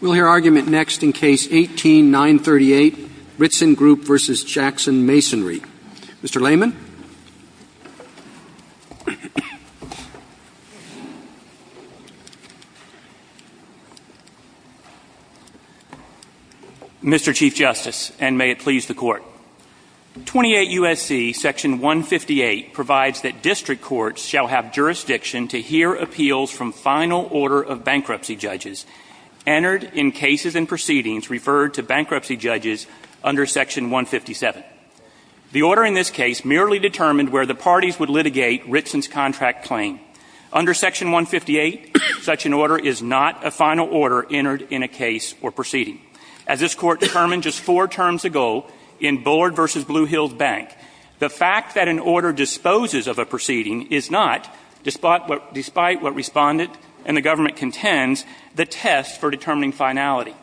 We'll hear argument next in Case 18-938, Ritzen Group v. Jackson Masonry. Mr. Layman. Mr. Chief Justice, and may it please the Court, 28 U.S.C. § 158 provides that district courts shall have jurisdiction to hear appeals from final order of bankruptcy judges entered in cases and proceedings referred to bankruptcy judges under Section 157. The order in this case merely determined where the parties would litigate Ritzen's contract claim. Under Section 158, such an order is not a final order entered in a case or proceeding. As this Court determined just four terms ago in Bullard v. Blue Hills Bank, the fact that an order disposes of a proceeding is not, despite what Respondent and the government contends, the test for determining finality.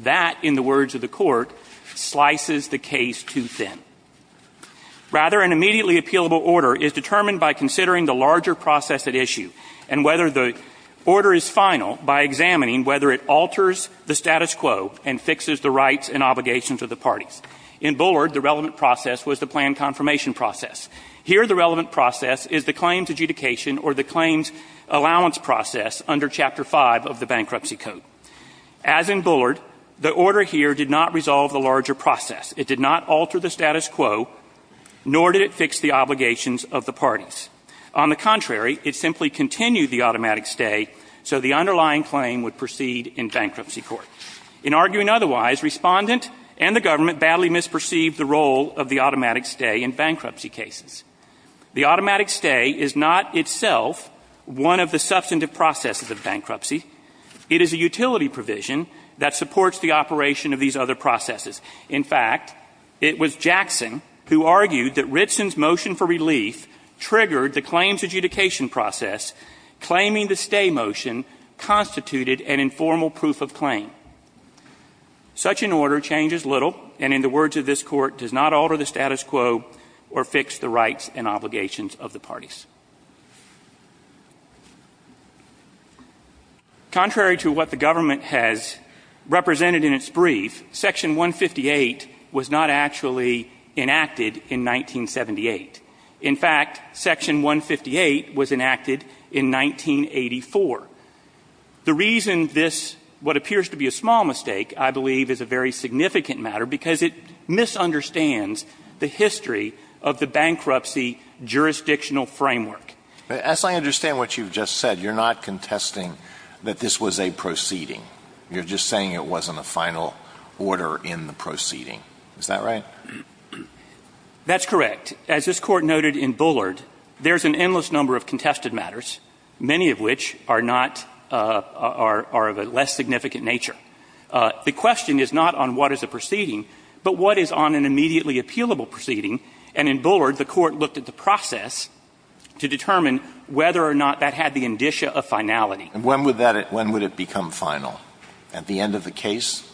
That, in the words of the Court, slices the case too thin. Rather, an immediately appealable order is determined by considering the larger process at issue and whether the order is final by examining whether it alters the status quo and fixes the rights and obligations of the parties. In Bullard, the relevant process was the plan confirmation process. Here, the relevant process is the claims adjudication or the claims allowance process under Chapter 5 of the Bankruptcy Code. As in Bullard, the order here did not resolve the larger process. It did not alter the status quo, nor did it fix the obligations of the parties. On the contrary, it simply continued the automatic stay so the underlying claim would proceed in bankruptcy court. In arguing otherwise, Respondent and the government badly misperceived the role of the automatic stay in bankruptcy cases. The automatic stay is not itself one of the substantive processes of bankruptcy. It is a utility provision that supports the operation of these other processes. In fact, it was Jackson who argued that Ritson's motion for relief triggered the claims adjudication process, claiming the stay motion constituted an informal proof of claim. Such an order changes little, and in the words of this Court, it does not alter the status quo or fix the rights and obligations of the parties. Contrary to what the government has represented in its brief, Section 158 was not actually enacted in 1978. In fact, Section 158 was enacted in 1984. The reason this what appears to be a small mistake, I believe, is a very significant matter because it misunderstands the history of the bankruptcy jurisdictional framework. Alitoson, I understand what you've just said. You're not contesting that this was a proceeding. You're just saying it wasn't a final order in the proceeding. Is that right? That's correct. As this Court noted in Bullard, there's an endless number of contested matters, many of which are not of a less significant nature. The question is not on what is a final proceeding, but what is on an immediately appealable proceeding, and in Bullard, the Court looked at the process to determine whether or not that had the indicia of finality. And when would that become final? At the end of the case?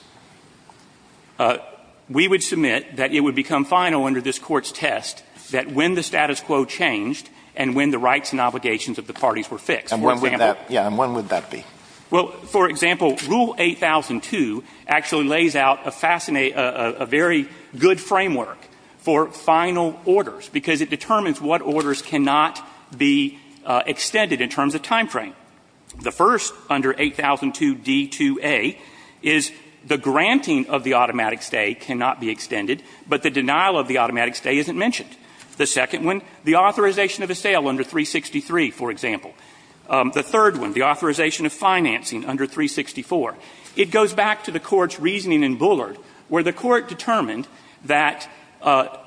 We would submit that it would become final under this Court's test that when the status quo changed and when the rights and obligations of the parties were fixed, for example. And when would that be? Well, for example, Rule 8002 actually lays out a fascinating – a very good framework for final orders because it determines what orders cannot be extended in terms of time frame. The first under 8002d2a is the granting of the automatic stay cannot be extended, but the denial of the automatic stay isn't mentioned. The second one, the authorization of a sale under 363, for example. The third one, the authorization of financing under 364. It goes back to the Court's reasoning in Bullard, where the Court determined that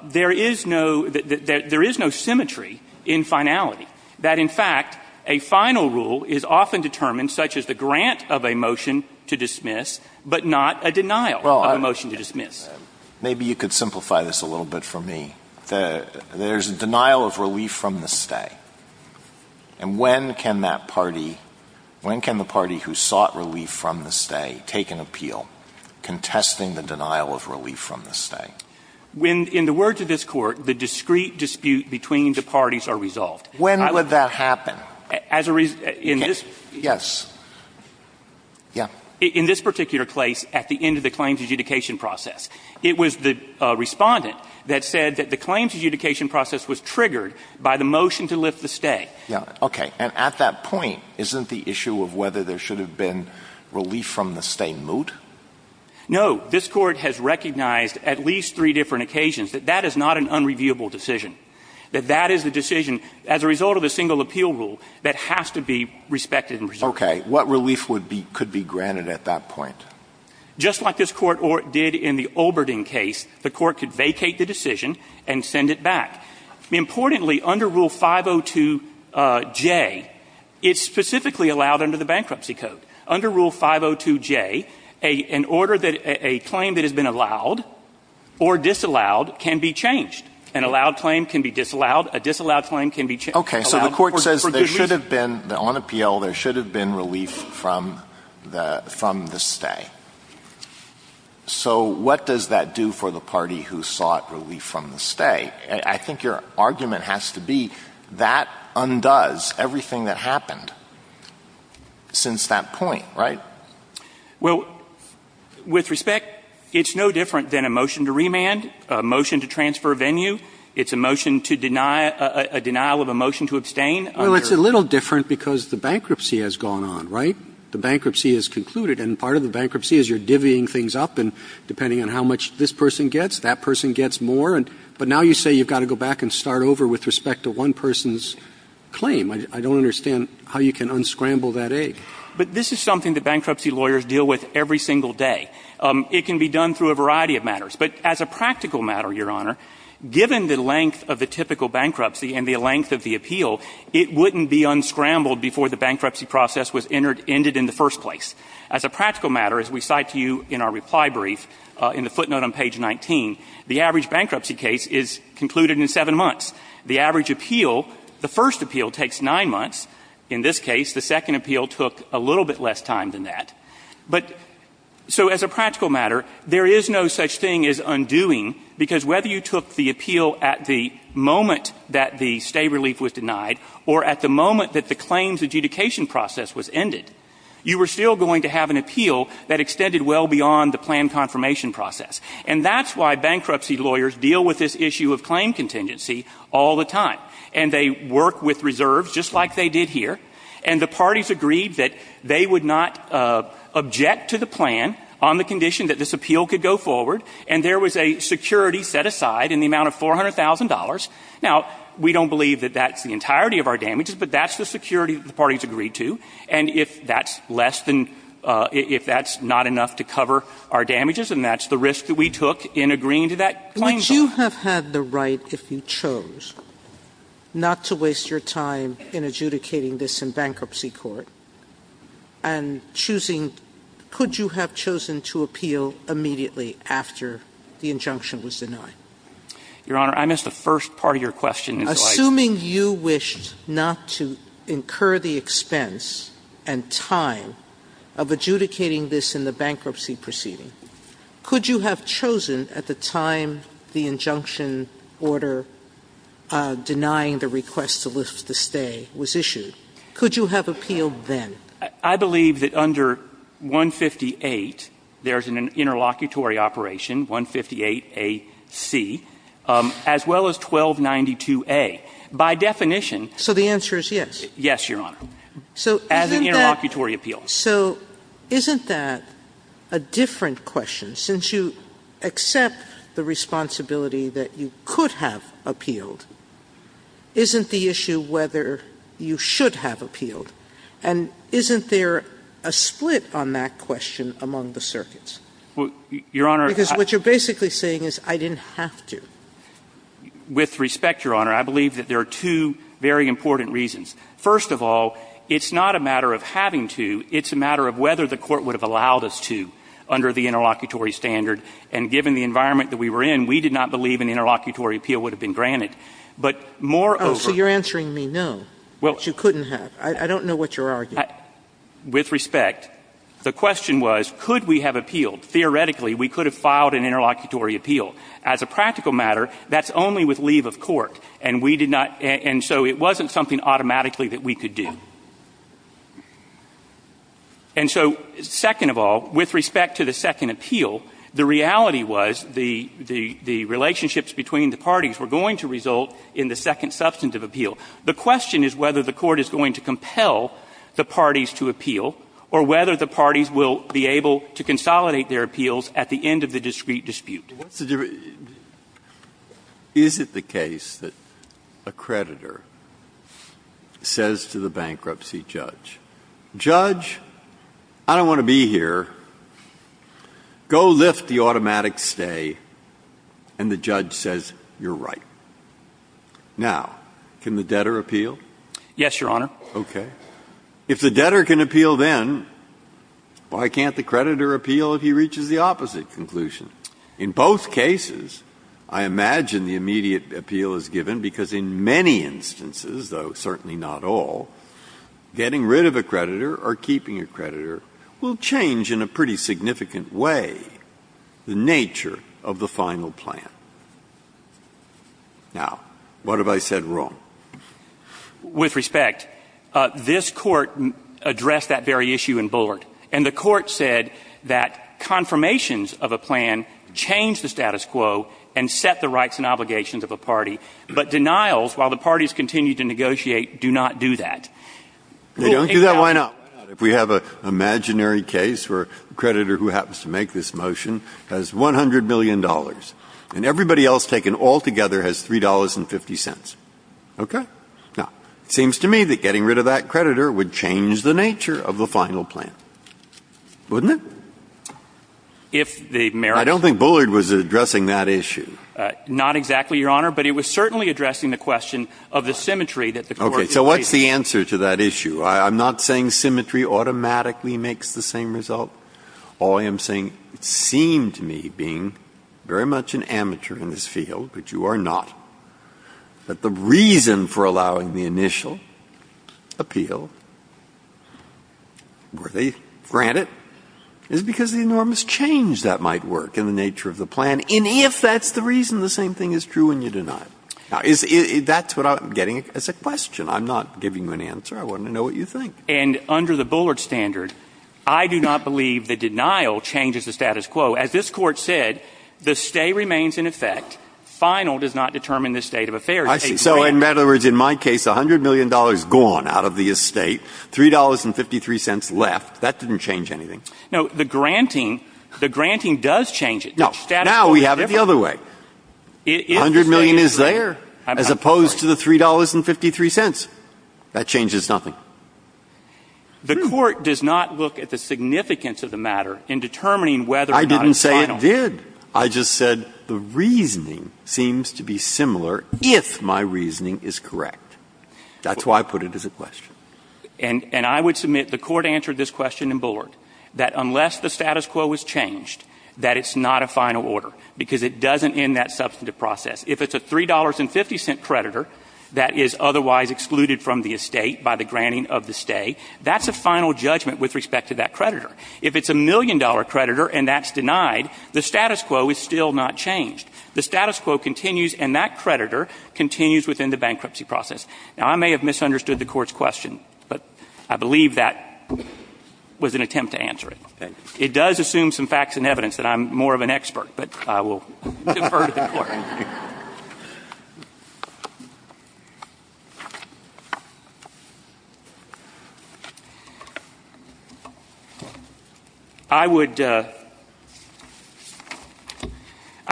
there is no – that there is no symmetry in finality, that, in fact, a final rule is often determined, such as the grant of a motion to dismiss, but not a denial of a motion to dismiss. Well, I – maybe you could simplify this a little bit for me. There's a denial of relief from the stay. And when can that party – when can the party who sought relief from the stay take an appeal contesting the denial of relief from the stay? When, in the words of this Court, the discrete dispute between the parties are resolved. When would that happen? As a – in this – Yes. Yeah. In this particular case, at the end of the claims adjudication process. It was the respondent that said that the claims adjudication process was triggered by the motion to lift the stay. Yeah. Okay. And at that point, isn't the issue of whether there should have been relief from the stay moot? No. This Court has recognized at least three different occasions that that is not an unreviewable decision, that that is the decision, as a result of a single appeal rule, that has to be respected and resolved. Okay. What relief would be – could be granted at that point? Just like this Court did in the Olberding case, the Court could vacate the decision and send it back. Importantly, under Rule 502J, it's specifically allowed under the Bankruptcy Code. Under Rule 502J, a – an order that – a claim that has been allowed or disallowed can be changed. An allowed claim can be disallowed. A disallowed claim can be changed. Okay. So the Court says there should have been – on appeal, there should have been relief from the – from the stay. So what does that do for the party who sought relief from the stay? I think your argument has to be that undoes everything that happened since that point, right? Well, with respect, it's no different than a motion to remand, a motion to transfer a venue. It's a motion to deny – a denial of a motion to abstain. Well, it's a little different because the bankruptcy has gone on, right? The bankruptcy has concluded, and part of the bankruptcy is you're divvying things up and depending on how much this person gets, that person gets more, and – but now you say you've got to go back and start over with respect to one person's claim. I don't understand how you can unscramble that egg. But this is something that bankruptcy lawyers deal with every single day. It can be done through a variety of matters. But as a practical matter, Your Honor, given the length of the typical bankruptcy and the length of the appeal, it wouldn't be unscrambled before the bankruptcy process was entered – ended in the first place. As a practical matter, as we cite to you in our reply brief, in the footnote on page 19, the average bankruptcy case is concluded in seven months. The average appeal – the first appeal takes nine months. In this case, the second appeal took a little bit less time than that. But – so as a practical matter, there is no such thing as undoing, because whether you took the appeal at the moment that the stay relief was denied or at the moment that the claims adjudication process was ended, you were still going to have an appeal that extended well beyond the plan confirmation process. And that's why bankruptcy lawyers deal with this issue of claim contingency all the time. And they work with reserves, just like they did here. And the parties agreed that they would not object to the plan on the condition that this appeal could go forward. And there was a security set aside in the amount of $400,000. Now, we don't believe that that sets the entirety of our damages, but that's the security that the parties agreed to. And if that's less than – if that's not enough to cover our damages, then that's the risk that we took in agreeing to that claim. Would you have had the right, if you chose, not to waste your time in adjudicating this in bankruptcy court, and choosing – could you have chosen to appeal immediately after the injunction was denied? Your Honor, I missed the first part of your question. Assuming you wished not to incur the expense and time of adjudicating this in the bankruptcy proceeding, could you have chosen at the time the injunction order denying the request to lift the stay was issued? Could you have appealed then? I believe that under 158, there's an interlocutory operation, 158A.C., as well as 1292A. By definition – So the answer is yes? Yes, Your Honor. So isn't that – As an interlocutory appeal. So isn't that a different question? Since you accept the responsibility that you could have appealed, isn't the issue whether you should have appealed? And isn't there a split on that question among the circuits? Well, Your Honor – Because what you're basically saying is I didn't have to. With respect, Your Honor, I believe that there are two very important reasons. First of all, it's not a matter of having to. It's a matter of whether the Court would have allowed us to under the interlocutory standard. And given the environment that we were in, we did not believe an interlocutory appeal would have been granted. But moreover – Oh, so you're answering me no, that you couldn't have. I don't know what you're arguing. With respect, the question was, could we have appealed? Theoretically, we could have an interlocutory appeal. As a practical matter, that's only with leave of court. And we did not – and so it wasn't something automatically that we could do. And so second of all, with respect to the second appeal, the reality was the – the relationships between the parties were going to result in the second substantive appeal. The question is whether the Court is going to compel the parties to appeal or whether the parties will be able to consolidate their appeals at the end of the discrete dispute. What's the – is it the case that a creditor says to the bankruptcy judge, judge, I don't want to be here. Go lift the automatic stay. And the judge says, you're right. Now, can the debtor appeal? Yes, Your Honor. Okay. If the debtor can appeal then, why can't the creditor appeal if he reaches the opposite conclusion? In both cases, I imagine the immediate appeal is given because in many instances, though certainly not all, getting rid of a creditor or keeping a creditor will change in a pretty significant way the nature of the final plan. Now, what have I said wrong? With respect, this Court addressed that very issue in Bullard. And the Court said that confirmations of a plan change the status quo and set the rights and obligations of a party. But denials, while the parties continue to negotiate, do not do that. They don't do that? Why not? If we have an imaginary case where the creditor who happens to make this motion has $100 million and everybody else taken altogether has $3.50. Okay. Now, it seems to me that getting rid of that creditor would change the nature of the final plan. Wouldn't it? If the merits... I don't think Bullard was addressing that issue. Not exactly, Your Honor. But it was certainly addressing the question of the symmetry that the Court is raising. Okay. So what's the answer to that issue? I'm not saying symmetry automatically makes the same result. All I am saying, it seemed to me, being very much an amateur in this field, but you are not, that the reason for allowing the initial appeal where they grant it is because of the enormous change that might work in the nature of the plan, and if that's the reason, the same thing is true when you deny it. Now, that's what I'm getting as a question. I'm not giving you an answer. I want to know what you think. And under the Bullard standard, I do not believe the denial changes the status quo. As this Court said, the stay remains in effect. Final does not determine the state of affairs. I see. So, in other words, in my case, $100 million gone out of the estate, $3.53 left. That didn't change anything. No. The granting, the granting does change it. No. Now we have it the other way. $100 million is there, as opposed to the $3.53. That changes nothing. The Court does not look at the significance of the matter in determining whether or not it's final. I did. I just said the reasoning seems to be similar if my reasoning is correct. That's why I put it as a question. And I would submit the Court answered this question in Bullard, that unless the status quo is changed, that it's not a final order, because it doesn't end that substantive process. If it's a $3.50 creditor that is otherwise excluded from the estate by the granting of the stay, that's a final judgment with respect to that creditor. If it's a $1 million creditor and that's denied, the status quo is still not changed. The status quo continues, and that creditor continues within the bankruptcy process. Now, I may have misunderstood the Court's question, but I believe that was an attempt to answer it. It does assume some facts and evidence that I'm more of an expert, but I will defer to the Court. I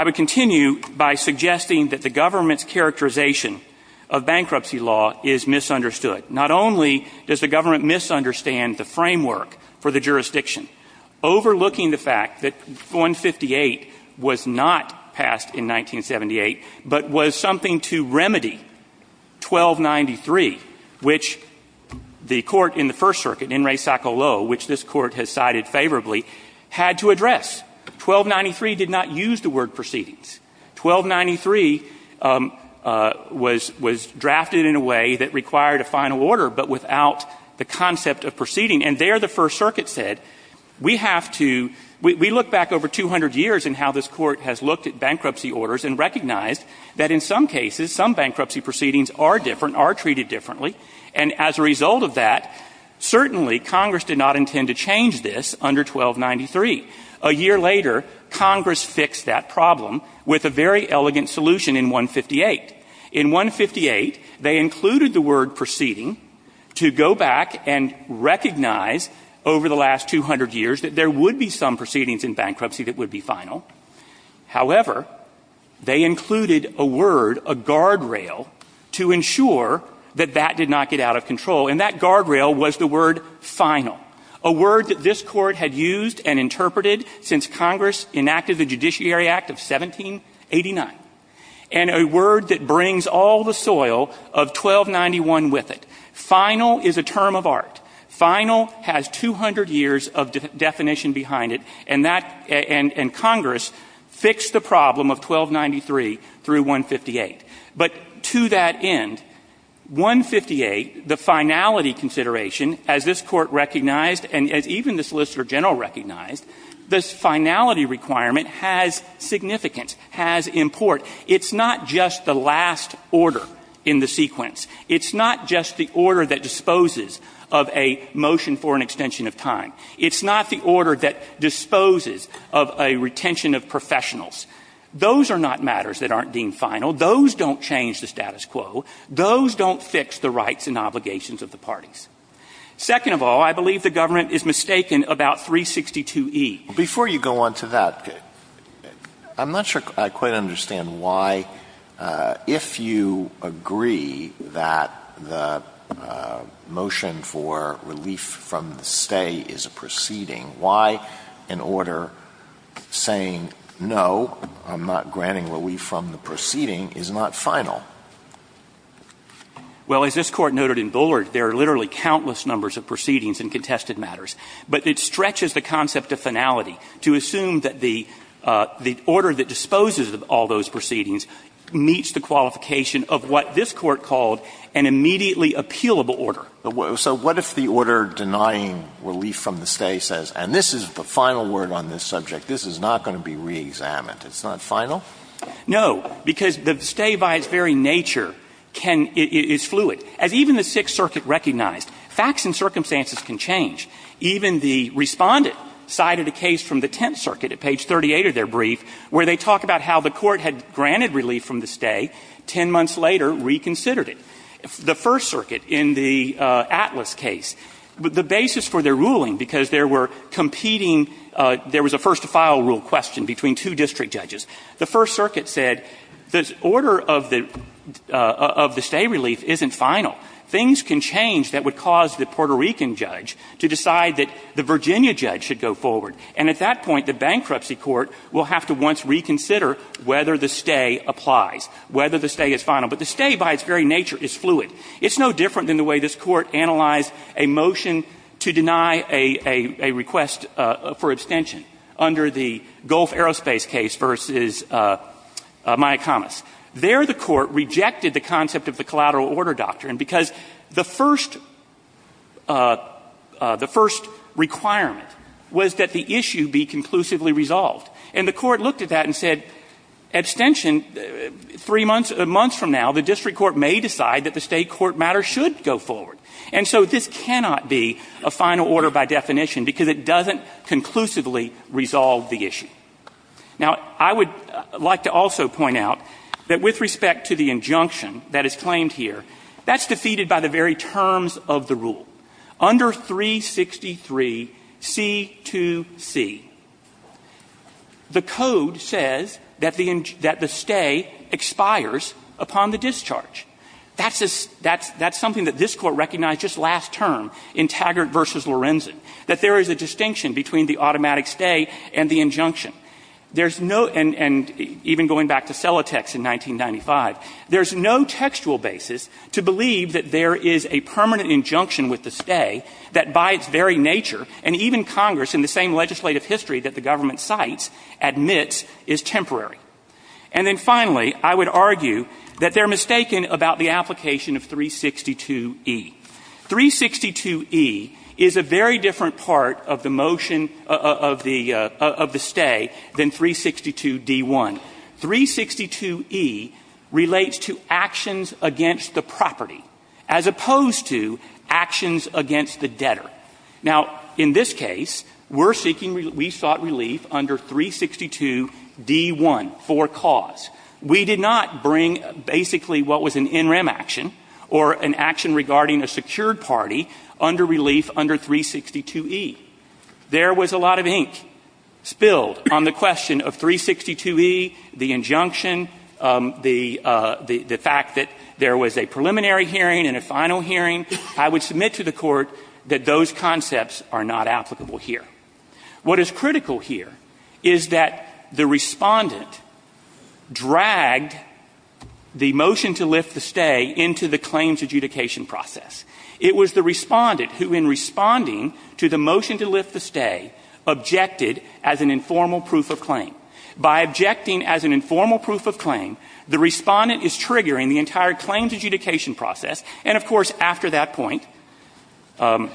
would continue by suggesting that the government's characterization of bankruptcy law is misunderstood. Not only does the government misunderstand the framework for the jurisdiction overlooking the fact that 158 was not passed in 1978, but was something to remedy 1293, which the Court in the First Circuit, In re sacca lo, which this Court has cited favorably, had to address. 1293 did not use the word proceedings. 1293 was drafted in a way that required a final order, but without the concept of proceeding. And there the First Circuit said, we have to we look back over 200 years in how this Court has looked at bankruptcy orders and recognized that in some cases, some bankruptcy proceedings are different, are treated differently, and as a result of that, certainly Congress did not intend to change this under 1293. A year later, Congress fixed that problem with a very elegant solution in 158. In 158, they included the word proceeding to go back and recognize over the last 200 years that there would be some proceedings in bankruptcy that would be final. However, they included a word, a guardrail, to ensure that that did not get out of control, and that guardrail was the word final, a word that this Court had used and interpreted since Congress enacted the Judiciary Act of 1789, and a word that broke that and brings all the soil of 1291 with it. Final is a term of art. Final has 200 years of definition behind it, and that and Congress fixed the problem of 1293 through 158. But to that end, 158, the finality consideration, as this Court recognized and as even the Solicitor General recognized, this finality requirement has significance, has import. It's not just the last order in the sequence. It's not just the order that disposes of a motion for an extension of time. It's not the order that disposes of a retention of professionals. Those are not matters that aren't deemed final. Those don't change the status quo. Those don't fix the rights and obligations of the parties. Second of all, I believe the government is mistaken about 362e. Before you go on to that, I'm not sure I quite understand why, if you agree that the motion for relief from the stay is a proceeding, why an order saying, no, I'm not granting relief from the proceeding, is not final? Well, as this Court noted in Bullard, there are literally countless numbers of proceedings in contested matters. But it stretches the concept of finality to assume that the order that disposes of all those proceedings meets the qualification of what this Court called an immediately appealable order. So what if the order denying relief from the stay says, and this is the final word on this subject, this is not going to be reexamined? It's not final? No, because the stay by its very nature can – is fluid. As even the Sixth Circuit recognized, facts and circumstances can change. Even the Respondent cited a case from the Tenth Circuit at page 38 of their brief where they talk about how the Court had granted relief from the stay, ten months later reconsidered it. The First Circuit in the Atlas case, the basis for their ruling, because there were competing – there was a first-to-file rule question between two district judges. The First Circuit said the order of the stay relief isn't final. Things can change that would cause the Puerto Rican judge to decide that the Virginia judge should go forward. And at that point, the bankruptcy court will have to once reconsider whether the stay applies, whether the stay is final. But the stay by its very nature is fluid. It's no different than the way this Court analyzed a motion to deny a request for abstention under the Gulf Aerospace case versus Myakamas. There, the Court rejected the concept of the collateral order doctrine because the first – the first requirement was that the issue be conclusively resolved. And the Court looked at that and said, abstention, three months – months from now, the district court may decide that the stay court matter should go forward. And so this cannot be a final order by definition because it doesn't conclusively resolve the issue. Now, I would like to also point out that with respect to the injunction that is claimed here, that's defeated by the very terms of the rule. Under 363C2C, the code says that the stay expires upon the discharge. That's something that this Court recognized just last term in Taggart v. Lorenzen, that there is a distinction between the automatic stay and the injunction. There's no – and even going back to Selatex in 1995, there's no textual basis to believe that there is a permanent injunction with the stay that by its very nature, and even Congress in the same legislative history that the government cites, admits is temporary. And then finally, I would argue that they're mistaken about the application of 362E. 362E is a very different part of the motion of the – of the stay than 362D1. 362E relates to actions against the property as opposed to actions against the debtor. Now, in this case, we're seeking – we sought relief under 362D1 for cause. We did not bring basically what was an NREM action or an action regarding a secured party under relief under 362E. There was a lot of ink spilled on the question of 362E, the injunction, the fact that there was a preliminary hearing and a final hearing. I would submit to the Court that those concepts are not applicable here. What is critical here is that the Respondent dragged the motion to lift the stay into the claims adjudication process. It was the Respondent who, in responding to the motion to lift the stay, objected as an informal proof of claim. By objecting as an informal proof of claim, the Respondent is triggering the entire claims adjudication process. And, of course, after that point, we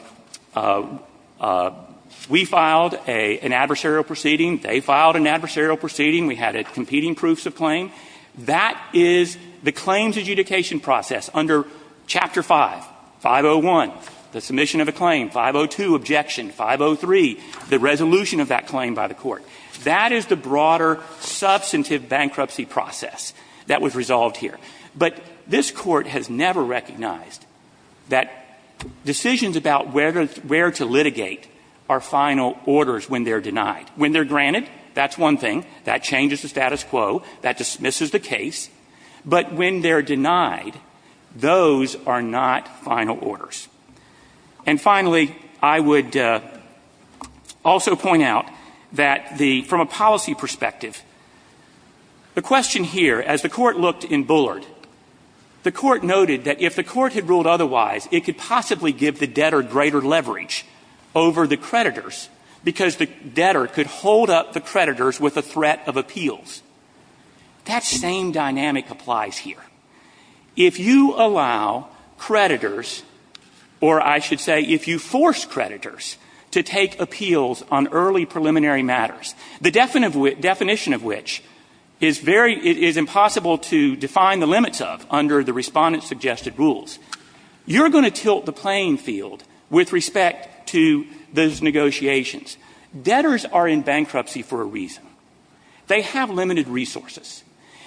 filed an adversarial proceeding. They filed an adversarial proceeding. We had competing proofs of claim. That is the claims adjudication process under Chapter 5, 501, the submission of a claim, 502, objection, 503, the resolution of that claim by the Court. That is the broader substantive bankruptcy process that was resolved here. But this Court has never recognized that decisions about where to litigate are final orders when they're denied. When they're granted, that's one thing. That changes the status quo. That dismisses the case. But when they're denied, those are not final orders. And, finally, I would also point out that from a policy perspective, the question here, as the Court looked in Bullard, the Court noted that if the Court had ruled otherwise, it could possibly give the debtor greater leverage over the creditors because the debtor could hold up the creditors with a threat of appeals. That same dynamic applies here. If you allow creditors, or I should say if you force creditors to take appeals on what is impossible to define the limits of under the Respondent's suggested rules, you're going to tilt the playing field with respect to those negotiations. Debtors are in bankruptcy for a reason. They have limited resources.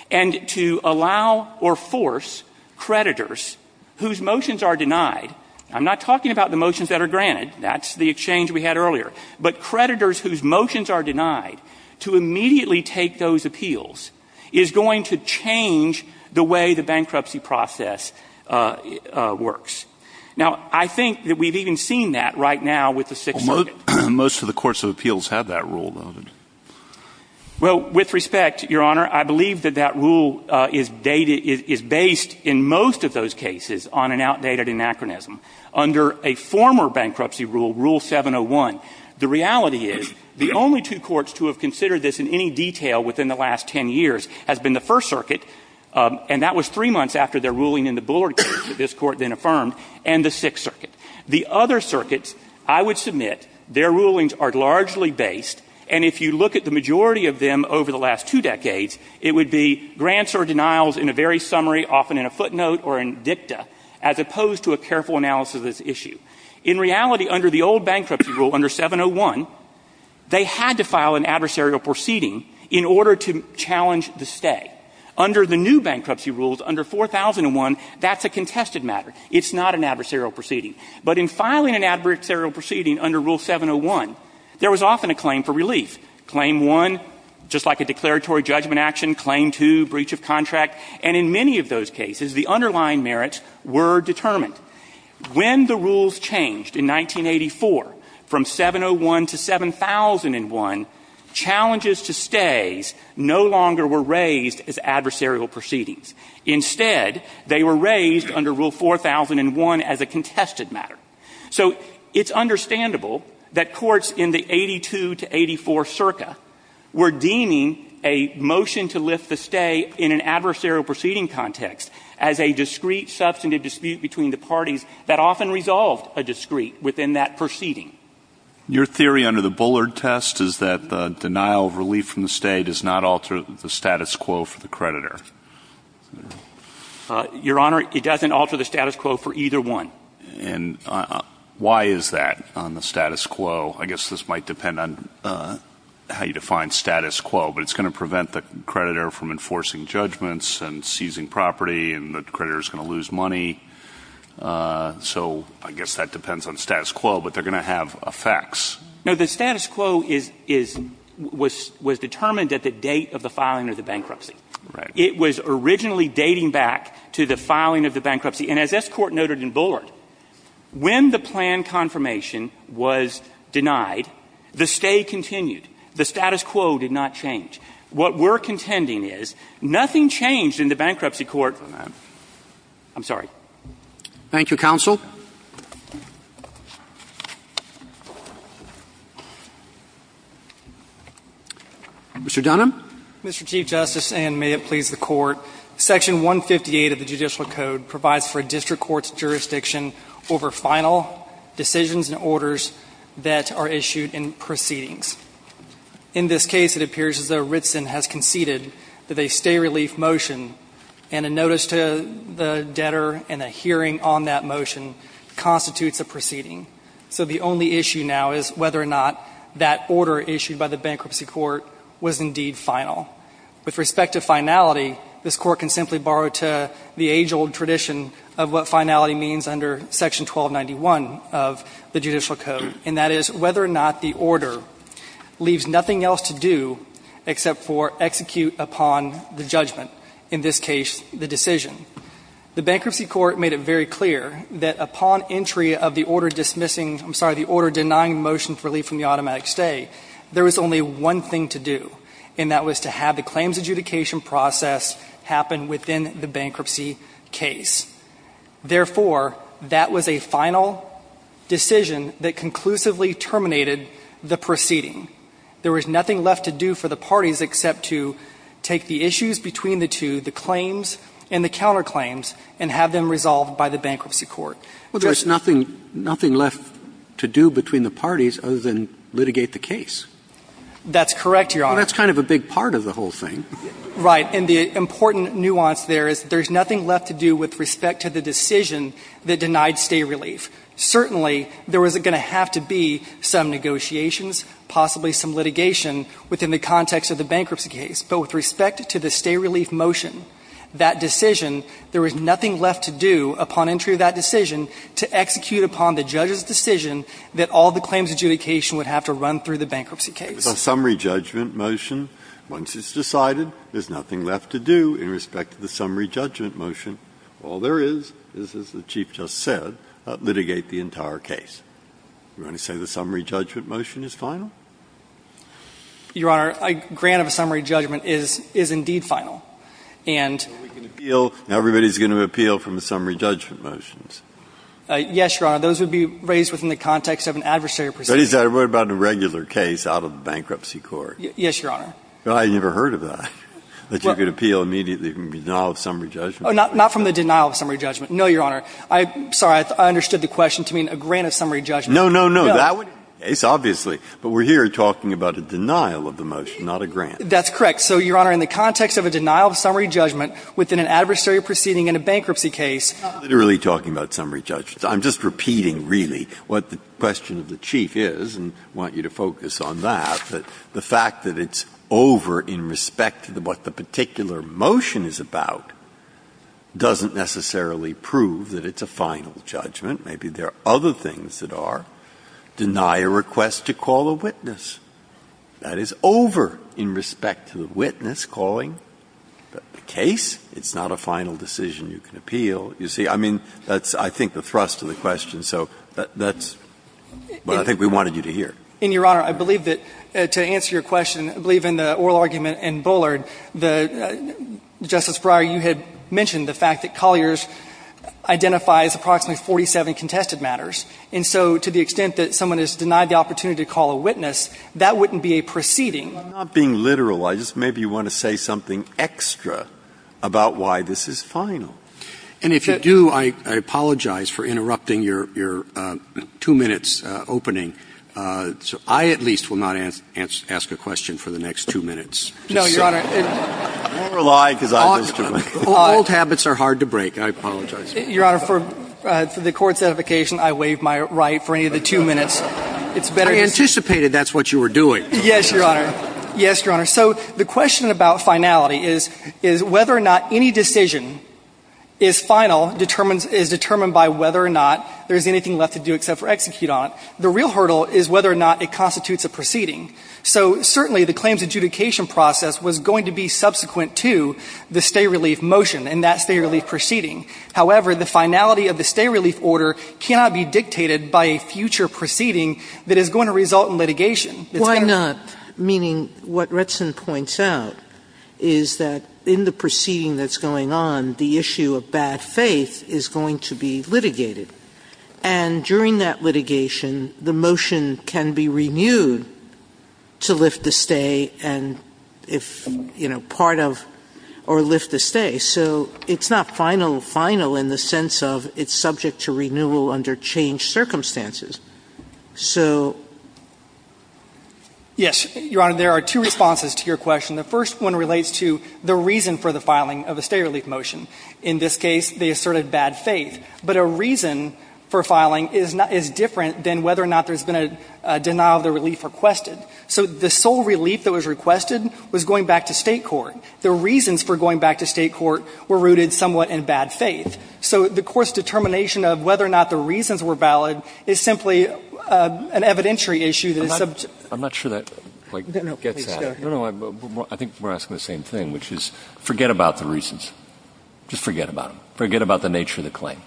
And to allow or force creditors whose motions are denied, I'm not talking about the motions that are granted, that's the exchange we had earlier, but creditors whose motions are denied are going to change the way the bankruptcy process works. Now, I think that we've even seen that right now with the Sixth Circuit. Most of the courts of appeals have that rule, though. Well, with respect, Your Honor, I believe that that rule is based in most of those cases on an outdated anachronism. Under a former bankruptcy rule, Rule 701, the reality is the only two courts to have that rule are the First Circuit, and that was three months after their ruling in the Bullard case that this Court then affirmed, and the Sixth Circuit. The other circuits, I would submit, their rulings are largely based, and if you look at the majority of them over the last two decades, it would be grants or denials in a very summary, often in a footnote or in dicta, as opposed to a careful analysis of this issue. In reality, under the old bankruptcy rule, under 701, they had to file an adversarial proceeding in order to challenge the stay. Under the new bankruptcy rules, under 4001, that's a contested matter. It's not an adversarial proceeding. But in filing an adversarial proceeding under Rule 701, there was often a claim for relief, Claim 1, just like a declaratory judgment action, Claim 2, breach of contract, and in many of those cases, the underlying merits were determined. When the rules changed in 1984, from 701 to 7001, challenges to stays no longer were raised as adversarial proceedings. Instead, they were raised under Rule 4001 as a contested matter. So it's understandable that courts in the 82 to 84 circa were deeming a motion to lift the stay in an adversarial proceeding context as a discrete substantive dispute between the parties that often resolved a discrete within that proceeding. Your theory under the Bullard test is that the denial of relief from the stay does not alter the status quo for the creditor. Your Honor, it doesn't alter the status quo for either one. And why is that on the status quo? I guess this might depend on how you define status quo. But it's going to prevent the creditor from enforcing judgments and seizing property and the creditor is going to lose money. So I guess that depends on status quo. But they're going to have effects. No, the status quo was determined at the date of the filing of the bankruptcy. Right. It was originally dating back to the filing of the bankruptcy. And as this Court noted in Bullard, when the plan confirmation was denied, the stay continued. The status quo did not change. What we're contending is nothing changed in the bankruptcy court. I'm sorry. Thank you, counsel. Mr. Dunham. Mr. Chief Justice, and may it please the Court. Section 158 of the Judicial Code provides for a district court's jurisdiction over final decisions and orders that are issued in proceedings. In this case, it appears as though Ritson has conceded that a stay relief motion and a notice to the debtor and a hearing on that motion constitutes a proceeding. So the only issue now is whether or not that order issued by the bankruptcy court was indeed final. With respect to finality, this Court can simply borrow to the age-old tradition of what finality means under Section 1291 of the Judicial Code. And that is whether or not the order leaves nothing else to do except for execute upon the judgment, in this case, the decision. The bankruptcy court made it very clear that upon entry of the order dismissing I'm sorry, the order denying the motion for relief from the automatic stay, there was only one thing to do, and that was to have the claims adjudication process happen within the bankruptcy case. Therefore, that was a final decision that conclusively terminated the proceeding. There was nothing left to do for the parties except to take the issues between the two, the claims and the counterclaims, and have them resolved by the bankruptcy court. Well, there's nothing left to do between the parties other than litigate the case. That's correct, Your Honor. Well, that's kind of a big part of the whole thing. Right. And the important nuance there is there's nothing left to do with respect to the decision that denied stay relief. Certainly, there was going to have to be some negotiations, possibly some litigation within the context of the bankruptcy case. But with respect to the stay relief motion, that decision, there was nothing left to do upon entry of that decision to execute upon the judge's decision that all the claims adjudication would have to run through the bankruptcy case. The summary judgment motion, once it's decided, there's nothing left to do in respect to the summary judgment motion. All there is is, as the Chief just said, litigate the entire case. You want to say the summary judgment motion is final? Your Honor, a grant of a summary judgment is indeed final. And we can appeal, everybody's going to appeal from the summary judgment motions. Yes, Your Honor. Those would be raised within the context of an adversary proceeding. But what about a regular case out of the bankruptcy court? Yes, Your Honor. I never heard of that, that you could appeal immediately from the denial of summary judgment. Not from the denial of summary judgment. No, Your Honor. I'm sorry. I understood the question to mean a grant of summary judgment. No, no, no. That would be the case, obviously. But we're here talking about a denial of the motion, not a grant. That's correct. So, Your Honor, in the context of a denial of summary judgment within an adversary proceeding in a bankruptcy case. I'm literally talking about summary judgment. I'm just repeating, really, what the question of the Chief is, and I want you to focus on that, that the fact that it's over in respect to what the particular motion is about doesn't necessarily prove that it's a final judgment. Maybe there are other things that are. Deny a request to call a witness. That is over in respect to the witness calling the case. It's not a final decision you can appeal. You see, I mean, that's, I think, the thrust of the question. So that's what I think we wanted you to hear. And, Your Honor, I believe that to answer your question, I believe in the oral argument in Bullard, Justice Breyer, you had mentioned the fact that Colliers identifies approximately 47 contested matters. And so to the extent that someone has denied the opportunity to call a witness, that wouldn't be a proceeding. I'm not being literal. I just maybe want to say something extra about why this is final. And if you do, I apologize for interrupting your two minutes opening. So I at least will not ask a question for the next two minutes. No, Your Honor. Old habits are hard to break. I apologize. Your Honor, for the court's edification, I waive my right for any of the two minutes. I anticipated that's what you were doing. Yes, Your Honor. Yes, Your Honor. So the question about finality is whether or not any decision is final, is determined by whether or not there's anything left to do except for execute on it. The real hurdle is whether or not it constitutes a proceeding. So certainly the claims adjudication process was going to be subsequent to the stay relief motion and that stay relief proceeding. However, the finality of the stay relief order cannot be dictated by a future proceeding that is going to result in litigation. Why not? Meaning what Retson points out is that in the proceeding that's going on, the issue of bad faith is going to be litigated. And during that litigation, the motion can be renewed to lift the stay and if, you know, part of or lift the stay. So it's not final, final in the sense of it's subject to renewal under changed circumstances. So. Yes, Your Honor. There are two responses to your question. The first one relates to the reason for the filing of a stay relief motion. In this case, they asserted bad faith. But a reason for filing is different than whether or not there's been a denial of the relief requested. So the sole relief that was requested was going back to state court. The reasons for going back to state court were rooted somewhat in bad faith. So the court's determination of whether or not the reasons were valid is simply an evidentiary issue that is subject. I'm not sure that, like, gets at it. No, no. I think we're asking the same thing, which is forget about the reasons. Just forget about them. Forget about the nature of the claim.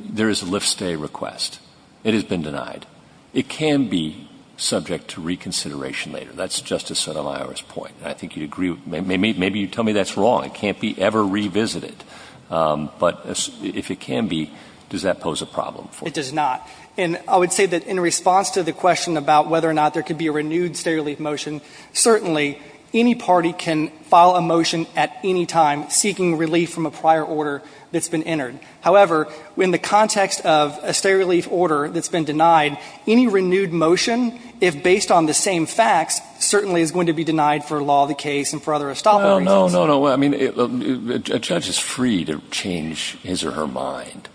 There is a lift stay request. It has been denied. It can be subject to reconsideration later. That's Justice Sotomayor's point. And I think you'd agree. Maybe you'd tell me that's wrong. It can't be ever revisited. But if it can be, does that pose a problem? It does not. And I would say that in response to the question about whether or not there could be a renewed state relief motion, certainly any party can file a motion at any time seeking relief from a prior order that's been entered. However, in the context of a state relief order that's been denied, any renewed motion, if based on the same facts, certainly is going to be denied for law of the case and for other estoppel reasons. No, no, no. I mean, a judge is free to change his or her mind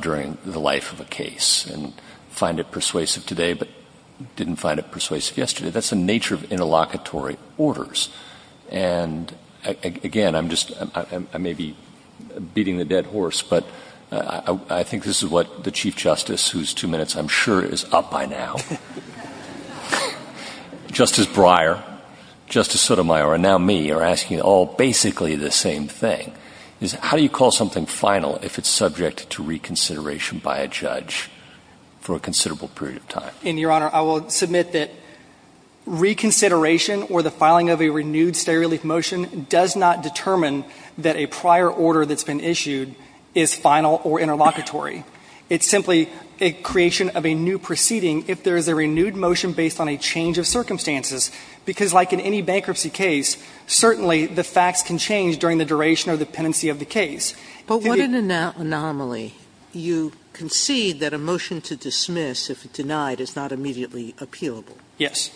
during the life of a case and find it persuasive today but didn't find it persuasive yesterday. That's the nature of interlocutory orders. And again, I'm just, I may be beating the dead horse, but I think this is what the Chief Justice, whose two minutes I'm sure is up by now, Justice Breyer, Justice Sotomayor, and now me, are asking all basically the same thing, is how do you call something final if it's subject to reconsideration by a judge for a considerable period of time? And, Your Honor, I will submit that reconsideration or the filing of a renewed state relief motion does not determine that a prior order that's been issued is final or interlocutory. It's simply a creation of a new proceeding if there's a renewed motion based on a change of circumstances. Because, like in any bankruptcy case, certainly the facts can change during the duration or the pendency of the case. But what an anomaly. You concede that a motion to dismiss, if it's denied, is not immediately appealable. Yes.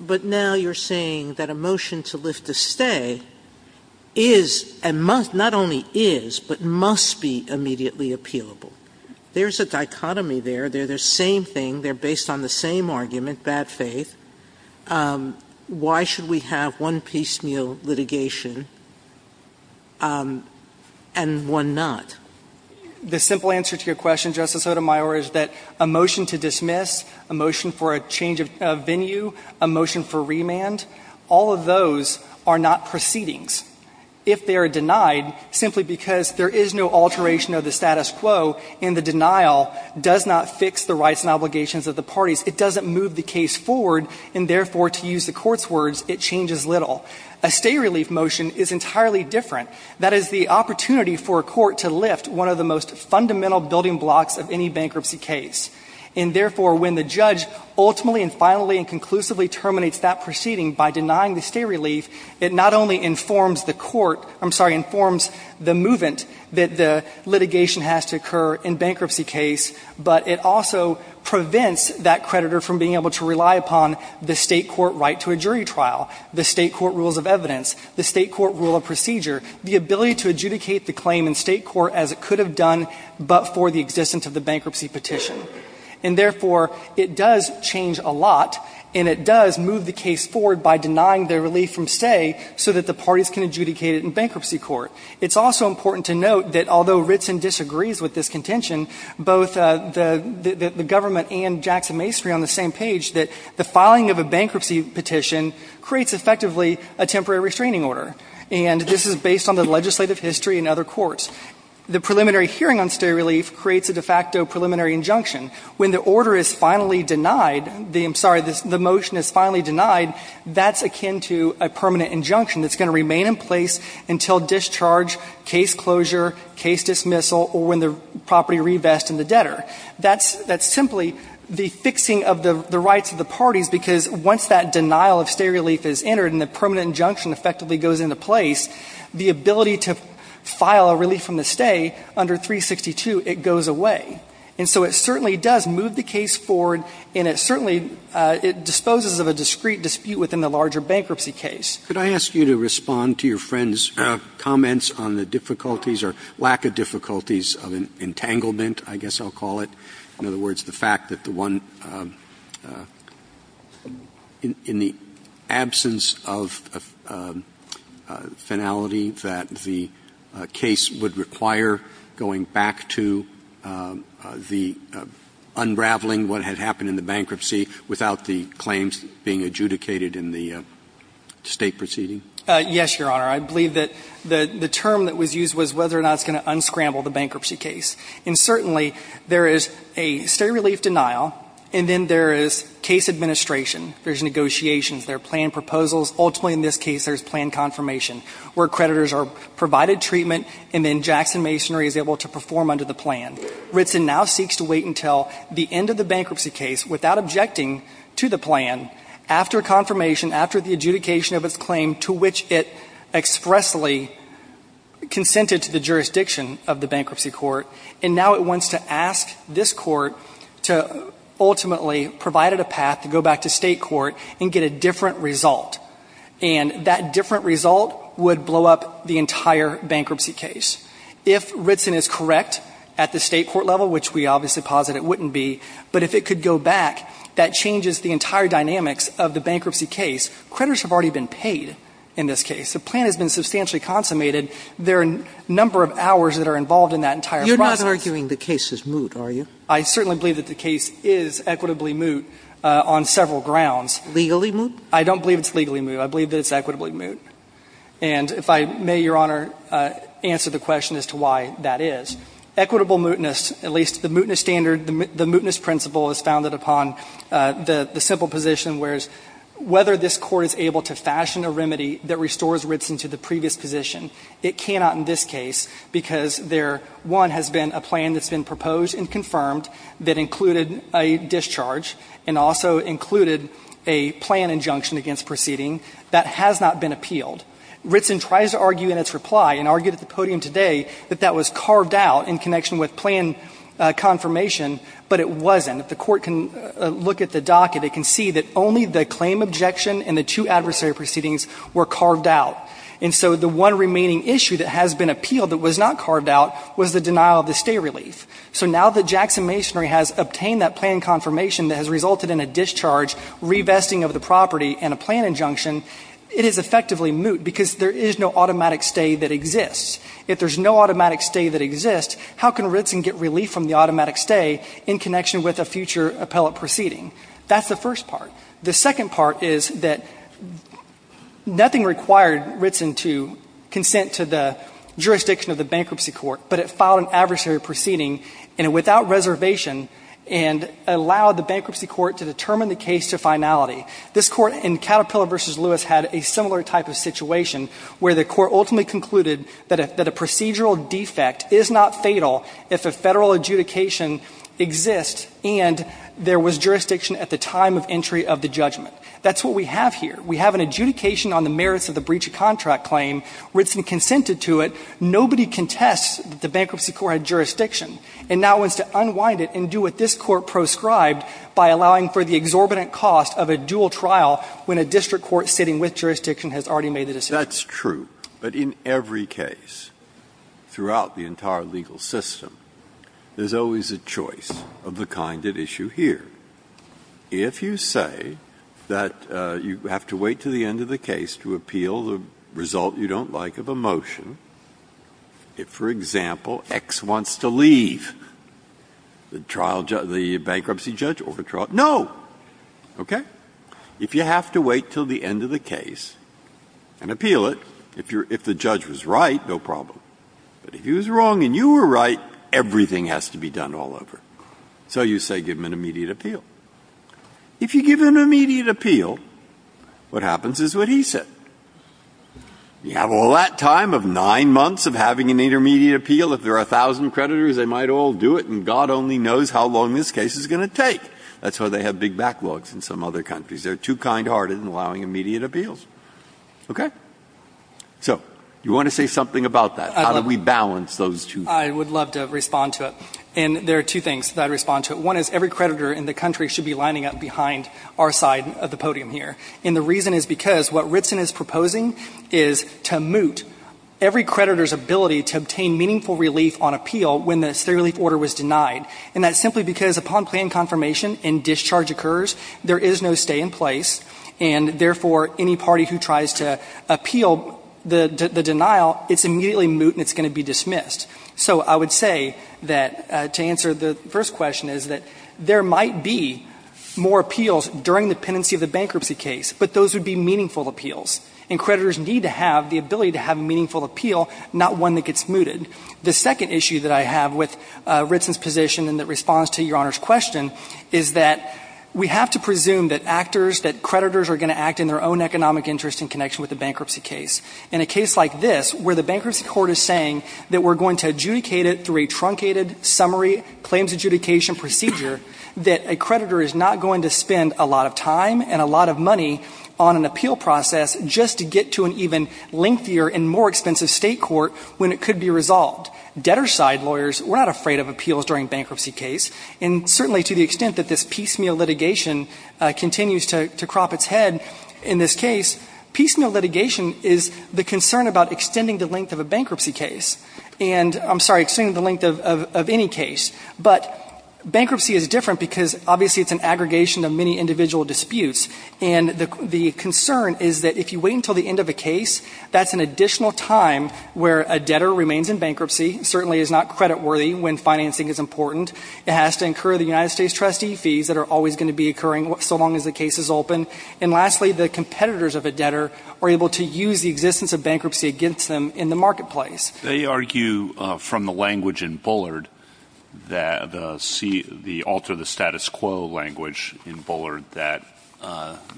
But now you're saying that a motion to lift a stay is, not only is, but must be immediately appealable. There's a dichotomy there. They're the same thing. They're based on the same argument, bad faith. Why should we have one piecemeal litigation and one not? The simple answer to your question, Justice Sotomayor, is that a motion to dismiss, a motion for a change of venue, a motion for remand, all of those are not proceedings if they are denied simply because there is no alteration of the status quo and the denial does not fix the rights and obligations of the parties. It doesn't move the case forward and, therefore, to use the court's words, it changes little. A stay relief motion is entirely different. That is the opportunity for a court to lift one of the most fundamental building blocks of any bankruptcy case. And, therefore, when the judge ultimately and finally and conclusively terminates that proceeding by denying the stay relief, it not only informs the court, I'm sorry, informs the movement that the litigation has to occur in bankruptcy case, but it also prevents that creditor from being able to rely upon the state court right to a jury trial, the state court rules of evidence, the state court rule of procedure, the ability to adjudicate the claim in state court as it could have done but for the existence of the bankruptcy petition. And, therefore, it does change a lot and it does move the case forward by denying the relief from stay so that the parties can adjudicate it in bankruptcy court. It's also important to note that although Ritson disagrees with this contention, both the government and Jackson Mastry on the same page that the filing of a bankruptcy petition creates effectively a temporary restraining order. And this is based on the legislative history in other courts. The preliminary hearing on stay relief creates a de facto preliminary injunction. When the order is finally denied, I'm sorry, the motion is finally denied, that's akin to a permanent injunction that's going to remain in place until discharge, case closure, case dismissal, or when the property revests and the debtor. That's simply the fixing of the rights of the parties because once that denial of stay relief is entered and the permanent injunction effectively goes into place, the ability to file a relief from the stay under 362, it goes away. And so it certainly does move the case forward and it certainly disposes of a discrete dispute within the larger bankruptcy case. Could I ask you to respond to your friend's comments on the difficulties or lack of difficulties of entanglement, I guess I'll call it. In other words, the fact that the one, in the absence of finality that the case would require going back to the unraveling what had happened in the bankruptcy without the claims being adjudicated in the state proceeding? Yes, Your Honor. I believe that the term that was used was whether or not it's going to unscramble the bankruptcy case. And certainly there is a stay relief denial and then there is case administration, there's negotiations, there are plan proposals. Ultimately in this case there's plan confirmation where creditors are provided treatment and then Jackson Masonry is able to perform under the plan. Ritson now seeks to wait until the end of the bankruptcy case without objecting to the plan after confirmation, after the adjudication of its claim to which it expressly consented to the jurisdiction of the bankruptcy court. And now it wants to ask this court to ultimately provide it a path to go back to state court and get a different result. And that different result would blow up the entire bankruptcy case. If Ritson is correct at the state court level, which we obviously posit it wouldn't be, but if it could go back, that changes the entire dynamics of the bankruptcy case. Creditors have already been paid in this case. The plan has been substantially consummated. There are a number of hours that are involved in that entire process. You're not arguing the case is moot, are you? I certainly believe that the case is equitably moot on several grounds. Legally moot? I don't believe it's legally moot. I believe that it's equitably moot. And if I may, Your Honor, answer the question as to why that is. Equitable mootness, at least the mootness standard, the mootness principle is founded upon the simple position, whereas whether this court is able to fashion a remedy that restores Ritson to the previous position, it cannot in this case because there, one, has been a plan that's been proposed and confirmed that included a discharge and also included a plan injunction against proceeding that has not been appealed. Ritson tries to argue in its reply and argued at the podium today that that was carved out in connection with plan confirmation, but it wasn't. If the court can look at the docket, it can see that only the claim objection and the two adversary proceedings were carved out. And so the one remaining issue that has been appealed that was not carved out was the denial of the stay relief. So now that Jackson Masonry has obtained that plan confirmation that has resulted in a discharge, revesting of the property and a plan injunction, it is effectively moot because there is no automatic stay that exists. If there's no automatic stay that exists, how can Ritson get relief from the automatic stay in connection with a future appellate proceeding? That's the first part. The second part is that nothing required Ritson to consent to the jurisdiction of the bankruptcy court, but it filed an adversary proceeding and without reservation and allowed the bankruptcy court to determine the case to finality. This court in Caterpillar v. Lewis had a similar type of situation where the court ultimately concluded that a procedural defect is not fatal if a federal adjudication exists and there was jurisdiction at the time of entry of the judgment. That's what we have here. We have an adjudication on the merits of the breach of contract claim. Ritson consented to it. Nobody contests that the bankruptcy court had jurisdiction. And now wants to unwind it and do what this Court proscribed by allowing for the exorbitant cost of a dual trial when a district court sitting with jurisdiction has already made the decision. Breyer. That's true. But in every case throughout the entire legal system, there's always a choice of the kind at issue here. If you say that you have to wait to the end of the case to appeal the result you don't like of a motion, if, for example, X wants to leave the bankruptcy judge or the trial judge, no. Okay? If you have to wait until the end of the case and appeal it, if the judge was right, no problem. But if he was wrong and you were right, everything has to be done all over. So you say give him an immediate appeal. If you give him an immediate appeal, what happens is what he said. You have all that time of nine months of having an intermediate appeal. If there are 1,000 creditors, they might all do it, and God only knows how long this case is going to take. That's why they have big backlogs in some other countries. They're too kindhearted in allowing immediate appeals. Okay? So you want to say something about that? How do we balance those two? I would love to respond to it. And there are two things that I'd respond to. One is every creditor in the country should be lining up behind our side of the podium here. And the reason is because what Ritson is proposing is to moot every creditor's ability to obtain meaningful relief on appeal when the state relief order was denied. And that's simply because upon planned confirmation and discharge occurs, there is no stay in place, and therefore, any party who tries to appeal the denial, it's immediately moot and it's going to be dismissed. So I would say that to answer the first question is that there might be more appeals during the pendency of the bankruptcy case, but those would be meaningful appeals. And creditors need to have the ability to have a meaningful appeal, not one that gets mooted. The second issue that I have with Ritson's position and that responds to Your Honor's question is that we have to presume that creditors are going to act in their own economic interest in connection with the bankruptcy case. In a case like this, where the bankruptcy court is saying that we're going to adjudicate it through a truncated summary claims adjudication procedure, that a lot of time and a lot of money on an appeal process just to get to an even lengthier and more expensive state court when it could be resolved. Debtor-side lawyers, we're not afraid of appeals during bankruptcy case. And certainly to the extent that this piecemeal litigation continues to crop its head in this case, piecemeal litigation is the concern about extending the length of a bankruptcy case. And I'm sorry, extending the length of any case. But bankruptcy is different because obviously it's an aggregation of many individual disputes. And the concern is that if you wait until the end of a case, that's an additional time where a debtor remains in bankruptcy, certainly is not creditworthy when financing is important. It has to incur the United States trustee fees that are always going to be occurring so long as the case is open. And lastly, the competitors of a debtor are able to use the existence of bankruptcy against them in the marketplace. They argue from the language in Bullard that the alter the status quo language in Bullard that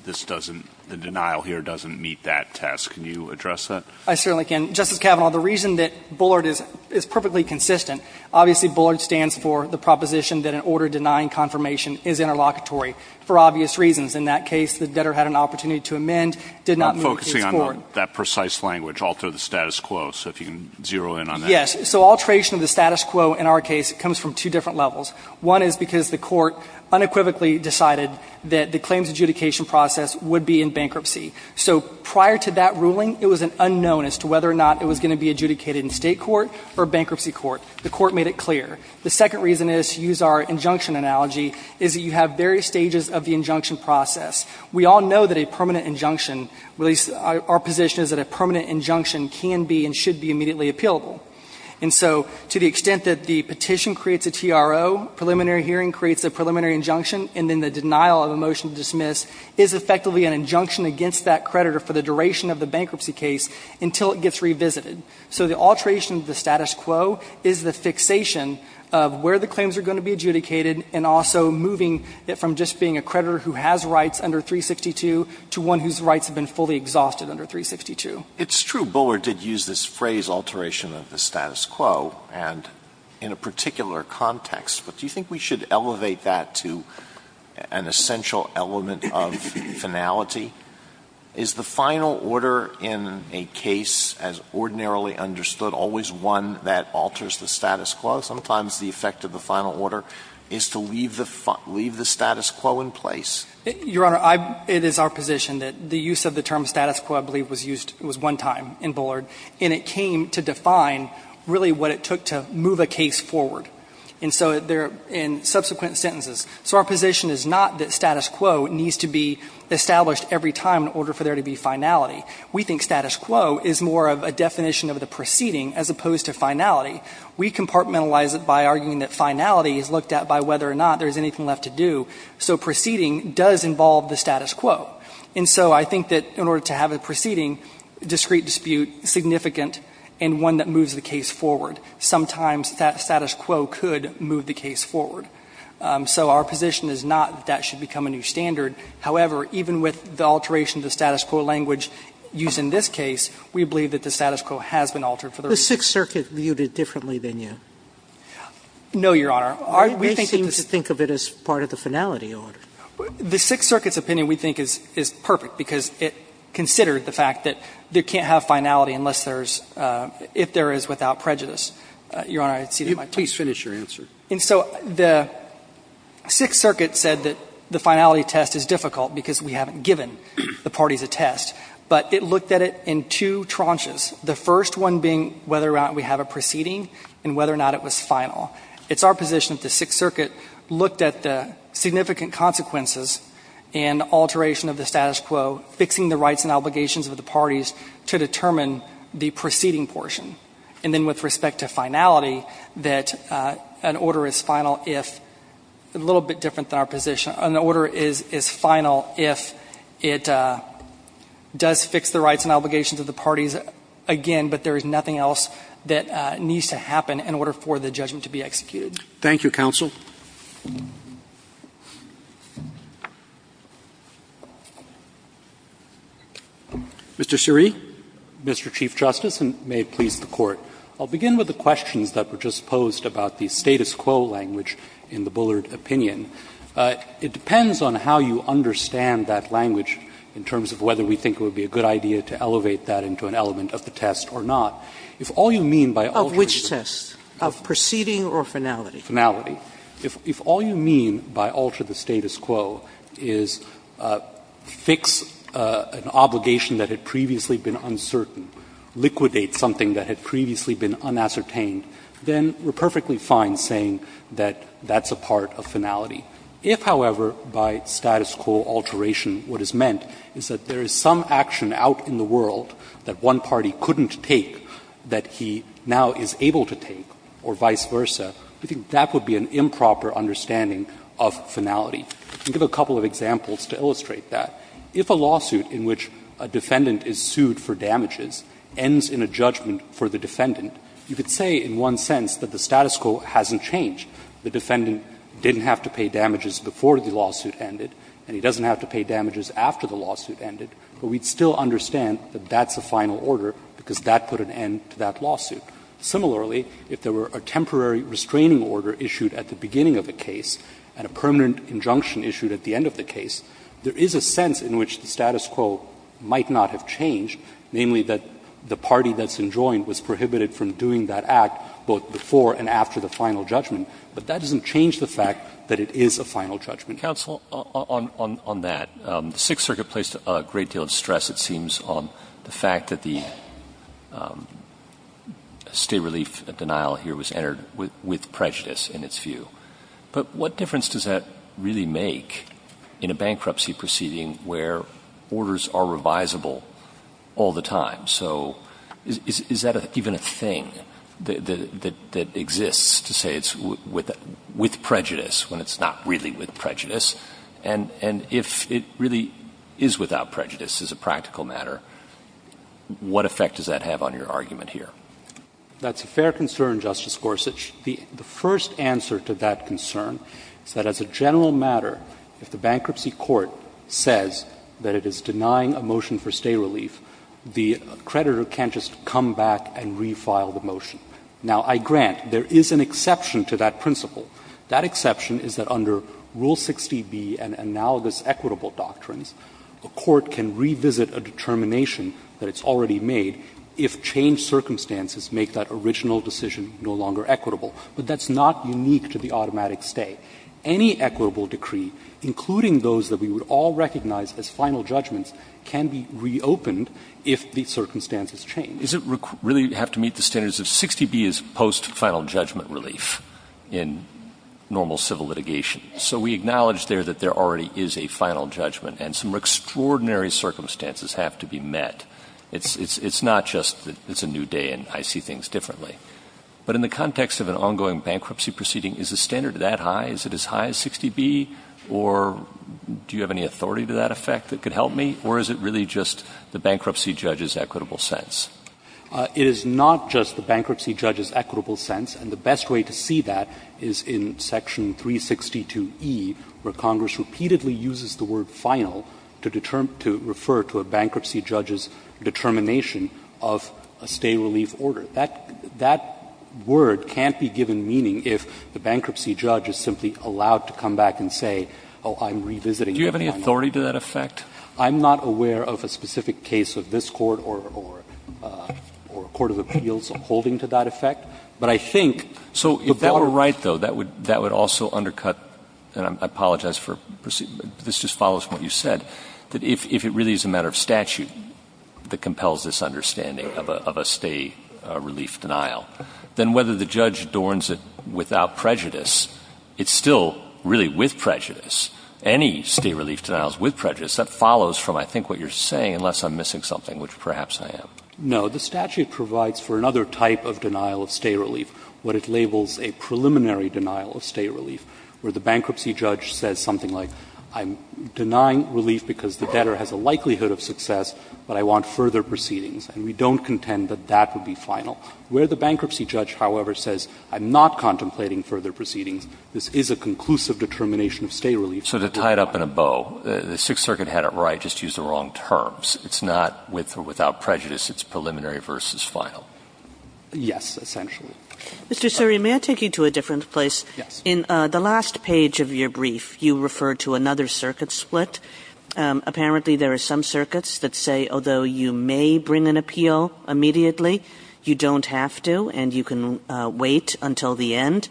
this doesn't, the denial here doesn't meet that test. Can you address that? I certainly can. Justice Kavanaugh, the reason that Bullard is perfectly consistent, obviously Bullard stands for the proposition that an order denying confirmation is interlocutory for obvious reasons. In that case, the debtor had an opportunity to amend, did not move the case forward. Based on that precise language, alter the status quo, so if you can zero in on that. Yes. So alteration of the status quo in our case comes from two different levels. One is because the court unequivocally decided that the claims adjudication process would be in bankruptcy. So prior to that ruling, it was an unknown as to whether or not it was going to be adjudicated in state court or bankruptcy court. The court made it clear. The second reason is, to use our injunction analogy, is that you have various stages of the injunction process. We all know that a permanent injunction, at least our position is that a permanent injunction can be and should be immediately appealable. And so to the extent that the petition creates a TRO, preliminary hearing creates a preliminary injunction, and then the denial of a motion to dismiss is effectively an injunction against that creditor for the duration of the bankruptcy case until it gets revisited. So the alteration of the status quo is the fixation of where the claims are going to be adjudicated and also moving it from just being a creditor who has rights under 362 to one whose rights have been fully exhausted under 362. Alito, it's true Bullard did use this phrase, alteration of the status quo, and in a particular context, but do you think we should elevate that to an essential element of finality? Is the final order in a case as ordinarily understood always one that alters the status quo? Sometimes the effect of the final order is to leave the status quo in place. Your Honor, it is our position that the use of the term status quo I believe was used, it was one time in Bullard, and it came to define really what it took to move a case forward. And so there, in subsequent sentences, so our position is not that status quo needs to be established every time in order for there to be finality. We think status quo is more of a definition of the proceeding as opposed to finality. We compartmentalize it by arguing that finality is looked at by whether or not there is anything left to do. So proceeding does involve the status quo. And so I think that in order to have a proceeding, discrete dispute, significant, and one that moves the case forward. Sometimes that status quo could move the case forward. So our position is not that that should become a new standard. However, even with the alteration of the status quo language used in this case, we believe that the status quo has been altered for the reason. The Sixth Circuit viewed it differently than you. No, Your Honor. We seem to think of it as part of the finality order. The Sixth Circuit's opinion, we think, is perfect because it considered the fact that there can't have finality unless there's, if there is, without prejudice. Your Honor, I cede my time. Please finish your answer. And so the Sixth Circuit said that the finality test is difficult because we haven't given the parties a test. But it looked at it in two tranches, the first one being whether or not we have a proceeding and whether or not it was final. It's our position that the Sixth Circuit looked at the significant consequences and alteration of the status quo, fixing the rights and obligations of the parties to determine the proceeding portion. And then with respect to finality, that an order is final if, a little bit different than our position, an order is final if it does fix the rights and obligations of the parties again, but there is nothing else that needs to happen in order for the judgment to be executed. Thank you, counsel. Mr. Siree. Mr. Chief Justice, and may it please the Court. I'll begin with the questions that were just posed about the status quo language in the Bullard opinion. It depends on how you understand that language in terms of whether we think it would be a good idea to elevate that into an element of the test or not. If all you mean by altering the status quo is fix an obligation that had previously been uncertain, liquidate something that had previously been unascertained, then we're perfectly fine saying that that's a part of finality. If, however, by status quo alteration, what is meant is that there is some action out in the world that one party couldn't take or that the other party couldn't take that he now is able to take or vice versa, we think that would be an improper understanding of finality. I'll give a couple of examples to illustrate that. If a lawsuit in which a defendant is sued for damages ends in a judgment for the defendant, you could say in one sense that the status quo hasn't changed. The defendant didn't have to pay damages before the lawsuit ended and he doesn't have to pay damages after the lawsuit ended, but we'd still understand that that's a final order because that put an end to that lawsuit. Similarly, if there were a temporary restraining order issued at the beginning of the case and a permanent injunction issued at the end of the case, there is a sense in which the status quo might not have changed, namely that the party that's enjoined was prohibited from doing that act both before and after the final judgment. But that doesn't change the fact that it is a final judgment. Mr. McLaughlin. Counsel, on that, the Sixth Circuit placed a great deal of stress, it seems, on the fact that the state relief denial here was entered with prejudice in its view. But what difference does that really make in a bankruptcy proceeding where orders are revisable all the time? So is that even a thing that exists to say it's with prejudice when it's not really with prejudice? And if it really is without prejudice as a practical matter, what effect does that have on your argument here? That's a fair concern, Justice Gorsuch. The first answer to that concern is that as a general matter, if the bankruptcy court says that it is denying a motion for state relief, the creditor can't just come back and refile the motion. Now, I grant there is an exception to that principle. That exception is that under Rule 60B and analogous equitable doctrines, a court can revisit a determination that it's already made if changed circumstances make that original decision no longer equitable. But that's not unique to the automatic stay. Any equitable decree, including those that we would all recognize as final judgments, can be reopened if the circumstances change. Does it really have to meet the standards of 60B as post-final judgment relief in normal civil litigation? So we acknowledge there that there already is a final judgment and some extraordinary circumstances have to be met. It's not just that it's a new day and I see things differently. But in the context of an ongoing bankruptcy proceeding, is the standard that high? Is it as high as 60B? Or do you have any authority to that effect that could help me? Or is it really just the bankruptcy judge's equitable sense? It is not just the bankruptcy judge's equitable sense. And the best way to see that is in Section 362E, where Congress repeatedly uses the word final to refer to a bankruptcy judge's determination of a stay relief order. That word can't be given meaning if the bankruptcy judge is simply allowed to come back and say, oh, I'm revisiting. Do you have any authority to that effect? I'm not aware of a specific case of this Court or a court of appeals holding to that effect. But I think the bar. So if that were right, though, that would also undercut, and I apologize for proceeding, but this just follows from what you said, that if it really is a matter of statute that compels this understanding of a stay relief denial, then whether the judge adorns it without prejudice, it's still really with prejudice. Any stay relief denial is with prejudice. That follows from, I think, what you're saying, unless I'm missing something, which perhaps I am. No. The statute provides for another type of denial of stay relief, what it labels a preliminary denial of stay relief, where the bankruptcy judge says something like, I'm denying relief because the debtor has a likelihood of success, but I want further proceedings. And we don't contend that that would be final. Where the bankruptcy judge, however, says, I'm not contemplating further proceedings, this is a conclusive determination of stay relief. So to tie it up in a bow, the Sixth Circuit had it right, just used the wrong terms. It's not with or without prejudice. It's preliminary versus final. Yes, essentially. Mr. Suri, may I take you to a different place? Yes. In the last page of your brief, you refer to another circuit split. Apparently, there are some circuits that say, although you may bring an appeal immediately, you don't have to, and you can wait until the end.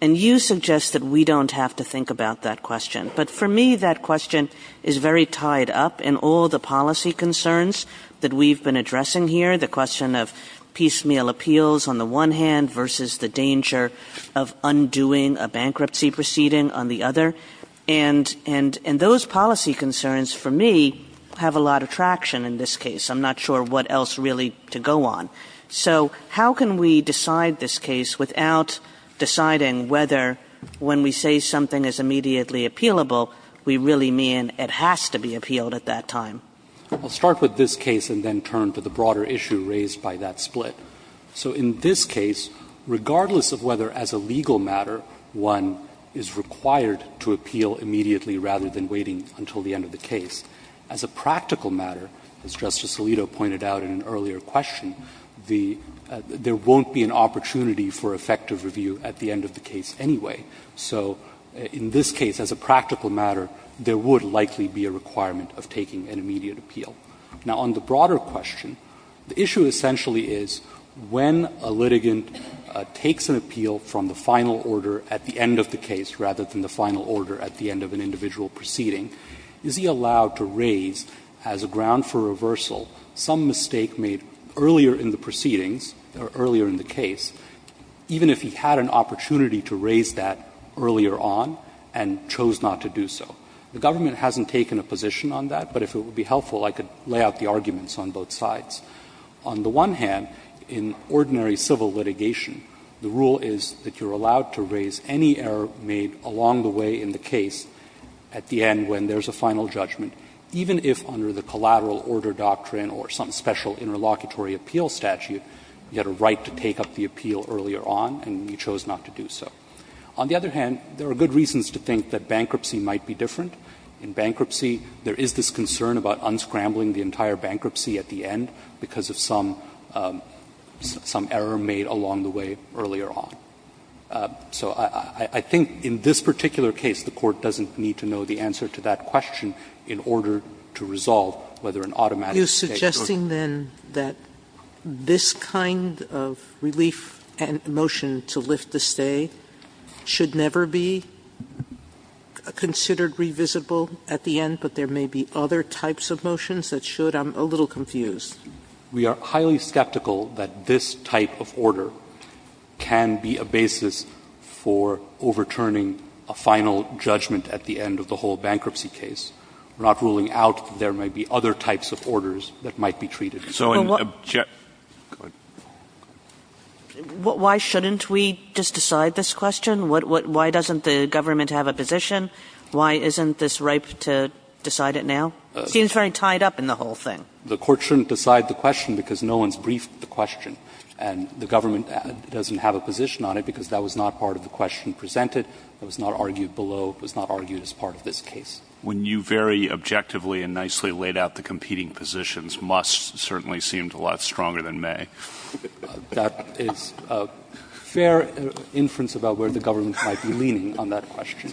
And you suggest that we don't have to think about that question. But for me, that question is very tied up in all the policy concerns that we've been addressing here, the question of piecemeal appeals on the one hand versus the danger of undoing a bankruptcy proceeding on the other. And those policy concerns, for me, have a lot of traction in this case. I'm not sure what else really to go on. So how can we decide this case without deciding whether when we say something is immediately appealable, we really mean it has to be appealed at that time? I'll start with this case and then turn to the broader issue raised by that split. So in this case, regardless of whether, as a legal matter, one is required to appeal immediately rather than waiting until the end of the case, as a practical matter, as Justice Alito pointed out in an earlier question, there won't be an opportunity for effective review at the end of the case anyway. So in this case, as a practical matter, there would likely be a requirement of taking an immediate appeal. Now, on the broader question, the issue essentially is, when a litigant takes an appeal from the final order at the end of the case rather than the final order at the end of an individual proceeding, is he allowed to raise, as a ground for reversal, some mistake made earlier in the proceedings or earlier in the case, even if he had an opportunity to raise that earlier on and chose not to do so? The government hasn't taken a position on that, but if it would be helpful, I could lay out the arguments on both sides. On the one hand, in ordinary civil litigation, the rule is that you're allowed to raise any error made along the way in the case at the end when there's a final judgment, even if under the collateral order doctrine or some special interlocutory appeal statute, you had a right to take up the appeal earlier on and you chose not to do so. On the other hand, there are good reasons to think that bankruptcy might be different. In bankruptcy, there is this concern about unscrambling the entire bankruptcy at the end because of some, some error made along the way earlier on. So I think in this particular case, the Court doesn't need to know the answer to that question in order to resolve whether an automatic mistake or not. Sotomayor, you're suggesting, then, that this kind of relief and motion to lift the stay should never be considered revisible at the end, but there may be other types of motions that should? I'm a little confused. We are highly skeptical that this type of order can be a basis for overturning a final judgment at the end of the whole bankruptcy case. We're not ruling out that there may be other types of orders that might be treated as such. Why shouldn't we just decide this question? Why doesn't the government have a position? Why isn't this ripe to decide it now? It seems very tied up in the whole thing. The Court shouldn't decide the question because no one's briefed the question. And the government doesn't have a position on it because that was not part of the question presented. It was not argued below. It was not argued as part of this case. When you very objectively and nicely laid out the competing positions, must certainly seemed a lot stronger than may. That is a fair inference about where the government might be leaning on that question.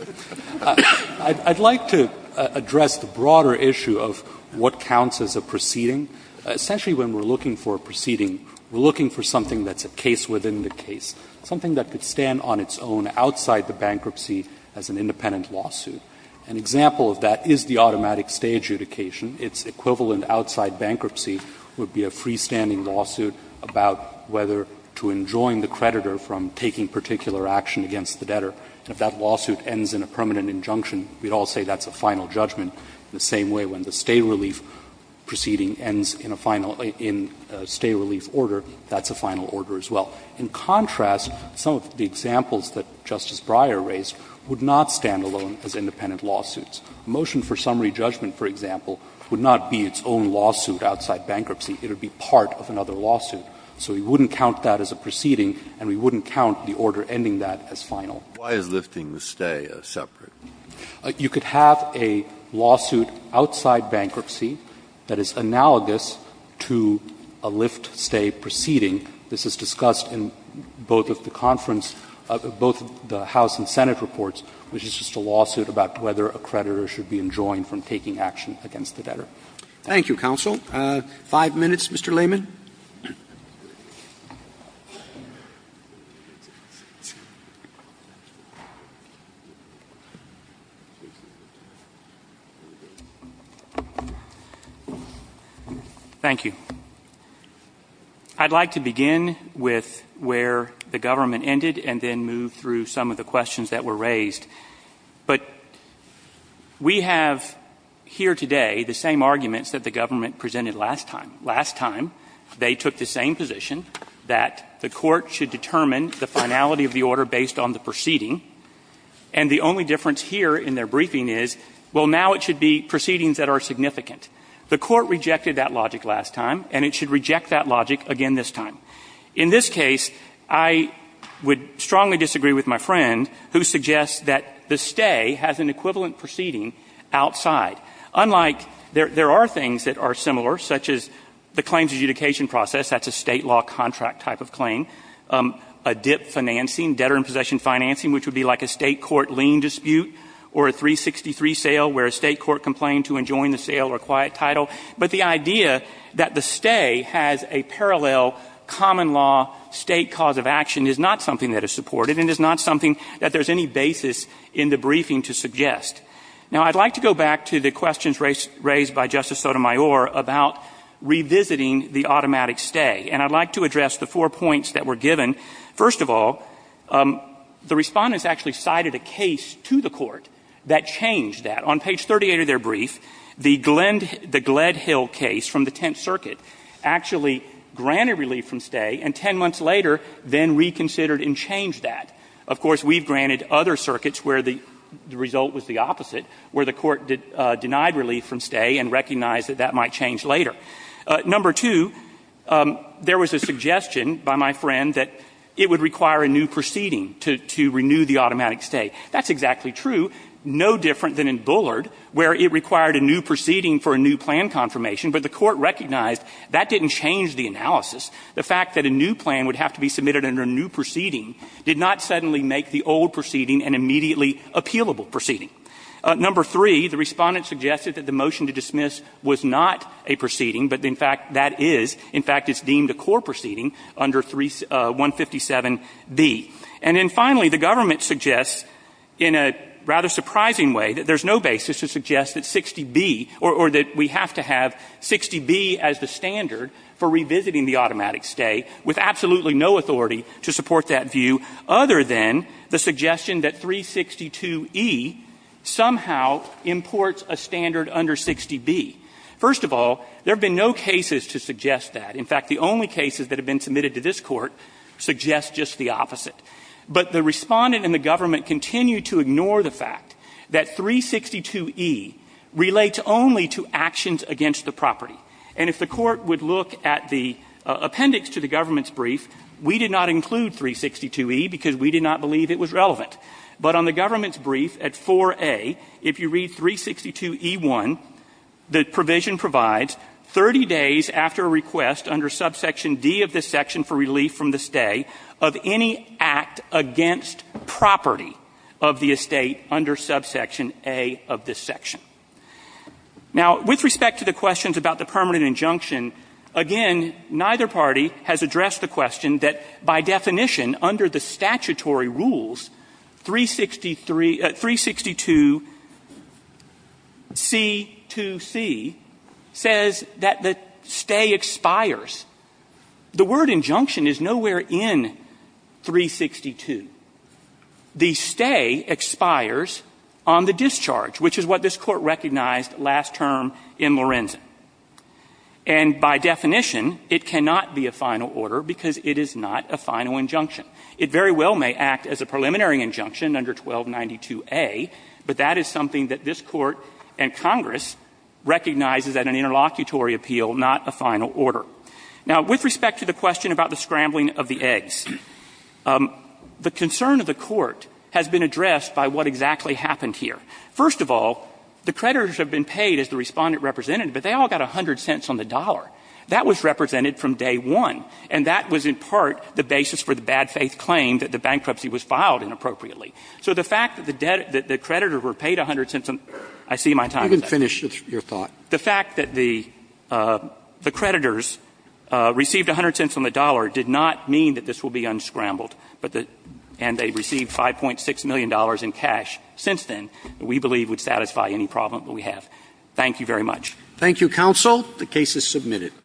I'd like to address the broader issue of what counts as a proceeding. Essentially, when we're looking for a proceeding, we're looking for something that's a case within the case, something that could stand on its own outside the bankruptcy as an independent lawsuit. An example of that is the automatic stay adjudication. Its equivalent outside bankruptcy would be a freestanding lawsuit about whether to enjoin the creditor from taking particular action against the debtor. And if that lawsuit ends in a permanent injunction, we'd all say that's a final judgment, the same way when the stay relief proceeding ends in a final — in a stay relief order, that's a final order as well. In contrast, some of the examples that Justice Breyer raised would not stand alone as independent lawsuits. A motion for summary judgment, for example, would not be its own lawsuit outside bankruptcy. It would be part of another lawsuit. So we wouldn't count that as a proceeding and we wouldn't count the order ending that as final. Breyer, why is lifting the stay separate? You could have a lawsuit outside bankruptcy that is analogous to a lift stay proceeding. This is discussed in both of the conference — both the House and Senate reports, which is just a lawsuit about whether a creditor should be enjoined from taking action against the debtor. Thank you, counsel. Five minutes, Mr. Layman. Thank you. I'd like to begin with where the government ended and then move through some of the questions that were raised. But we have here today the same arguments that the government presented last time. They took the same position that the Court should determine the finality of the order based on the proceeding. And the only difference here in their briefing is, well, now it should be proceedings that are significant. The Court rejected that logic last time and it should reject that logic again this time. In this case, I would strongly disagree with my friend who suggests that the stay has an equivalent proceeding outside. Unlike — there are things that are similar, such as the claims adjudication process. That's a State law contract type of claim. A dip financing, debtor in possession financing, which would be like a State court lien dispute or a 363 sale where a State court complained to enjoin the sale or quiet title. But the idea that the stay has a parallel common law State cause of action is not something that is supported and is not something that there's any basis in the briefing to suggest. Now, I'd like to go back to the questions raised by Justice Sotomayor about revisiting the automatic stay. And I'd like to address the four points that were given. First of all, the Respondents actually cited a case to the Court that changed that. On page 38 of their brief, the Glenn — the Gledhill case from the Tenth Circuit actually granted relief from stay and 10 months later then reconsidered and changed that. Of course, we've granted other circuits where the result was the opposite, where the Court denied relief from stay and recognized that that might change later. Number two, there was a suggestion by my friend that it would require a new proceeding to renew the automatic stay. That's exactly true, no different than in Bullard, where it required a new proceeding for a new plan confirmation. But the Court recognized that didn't change the analysis. The fact that a new plan would have to be submitted under a new proceeding did not suddenly make the old proceeding an immediately appealable proceeding. Number three, the Respondents suggested that the motion to dismiss was not a proceeding, but in fact that is. In fact, it's deemed a core proceeding under 157B. And then finally, the Government suggests in a rather surprising way that there's no basis to suggest that 60B — or that we have to have 60B as the standard for revisiting the automatic stay — with absolutely no authority to support that view, other than the suggestion that 362E somehow imports a standard under 60B. First of all, there have been no cases to suggest that. In fact, the only cases that have been submitted to this Court suggest just the opposite. But the Respondent and the Government continue to ignore the fact that 362E relates only to actions against the property. And if the Court would look at the appendix to the Government's brief, we did not include 362E because we did not believe it was relevant. But on the Government's brief at 4A, if you read 362E1, the provision provides 30 days after a request under subsection D of this section for relief from the stay of any act against property of the estate under subsection A of this section. Now, with respect to the questions about the permanent injunction, again, neither party has addressed the question that, by definition, under the statutory rules, 363 — 362C2C says that the stay expires. The word injunction is nowhere in 362. The stay expires on the discharge, which is what this Court recognized last term in Lorenzen. And by definition, it cannot be a final order because it is not a final injunction. It very well may act as a preliminary injunction under 1292A, but that is something that this Court and Congress recognizes at an interlocutory appeal, not a final order. Now, with respect to the question about the scrambling of the eggs, the concern of the Court has been addressed by what exactly happened here. First of all, the creditors have been paid, as the Respondent represented, but they all got 100 cents on the dollar. That was represented from day one, and that was, in part, the basis for the bad-faith claim that the bankruptcy was filed inappropriately. So the fact that the creditors were paid 100 cents on the dollar, I see my time is up. Sotomayor, you didn't finish your thought. The fact that the creditors received 100 cents on the dollar did not mean that this will be unscrambled, and they received $5.6 million in cash since then, that we believe would satisfy any problem that we have. Thank you very much. Thank you, counsel. The case is submitted.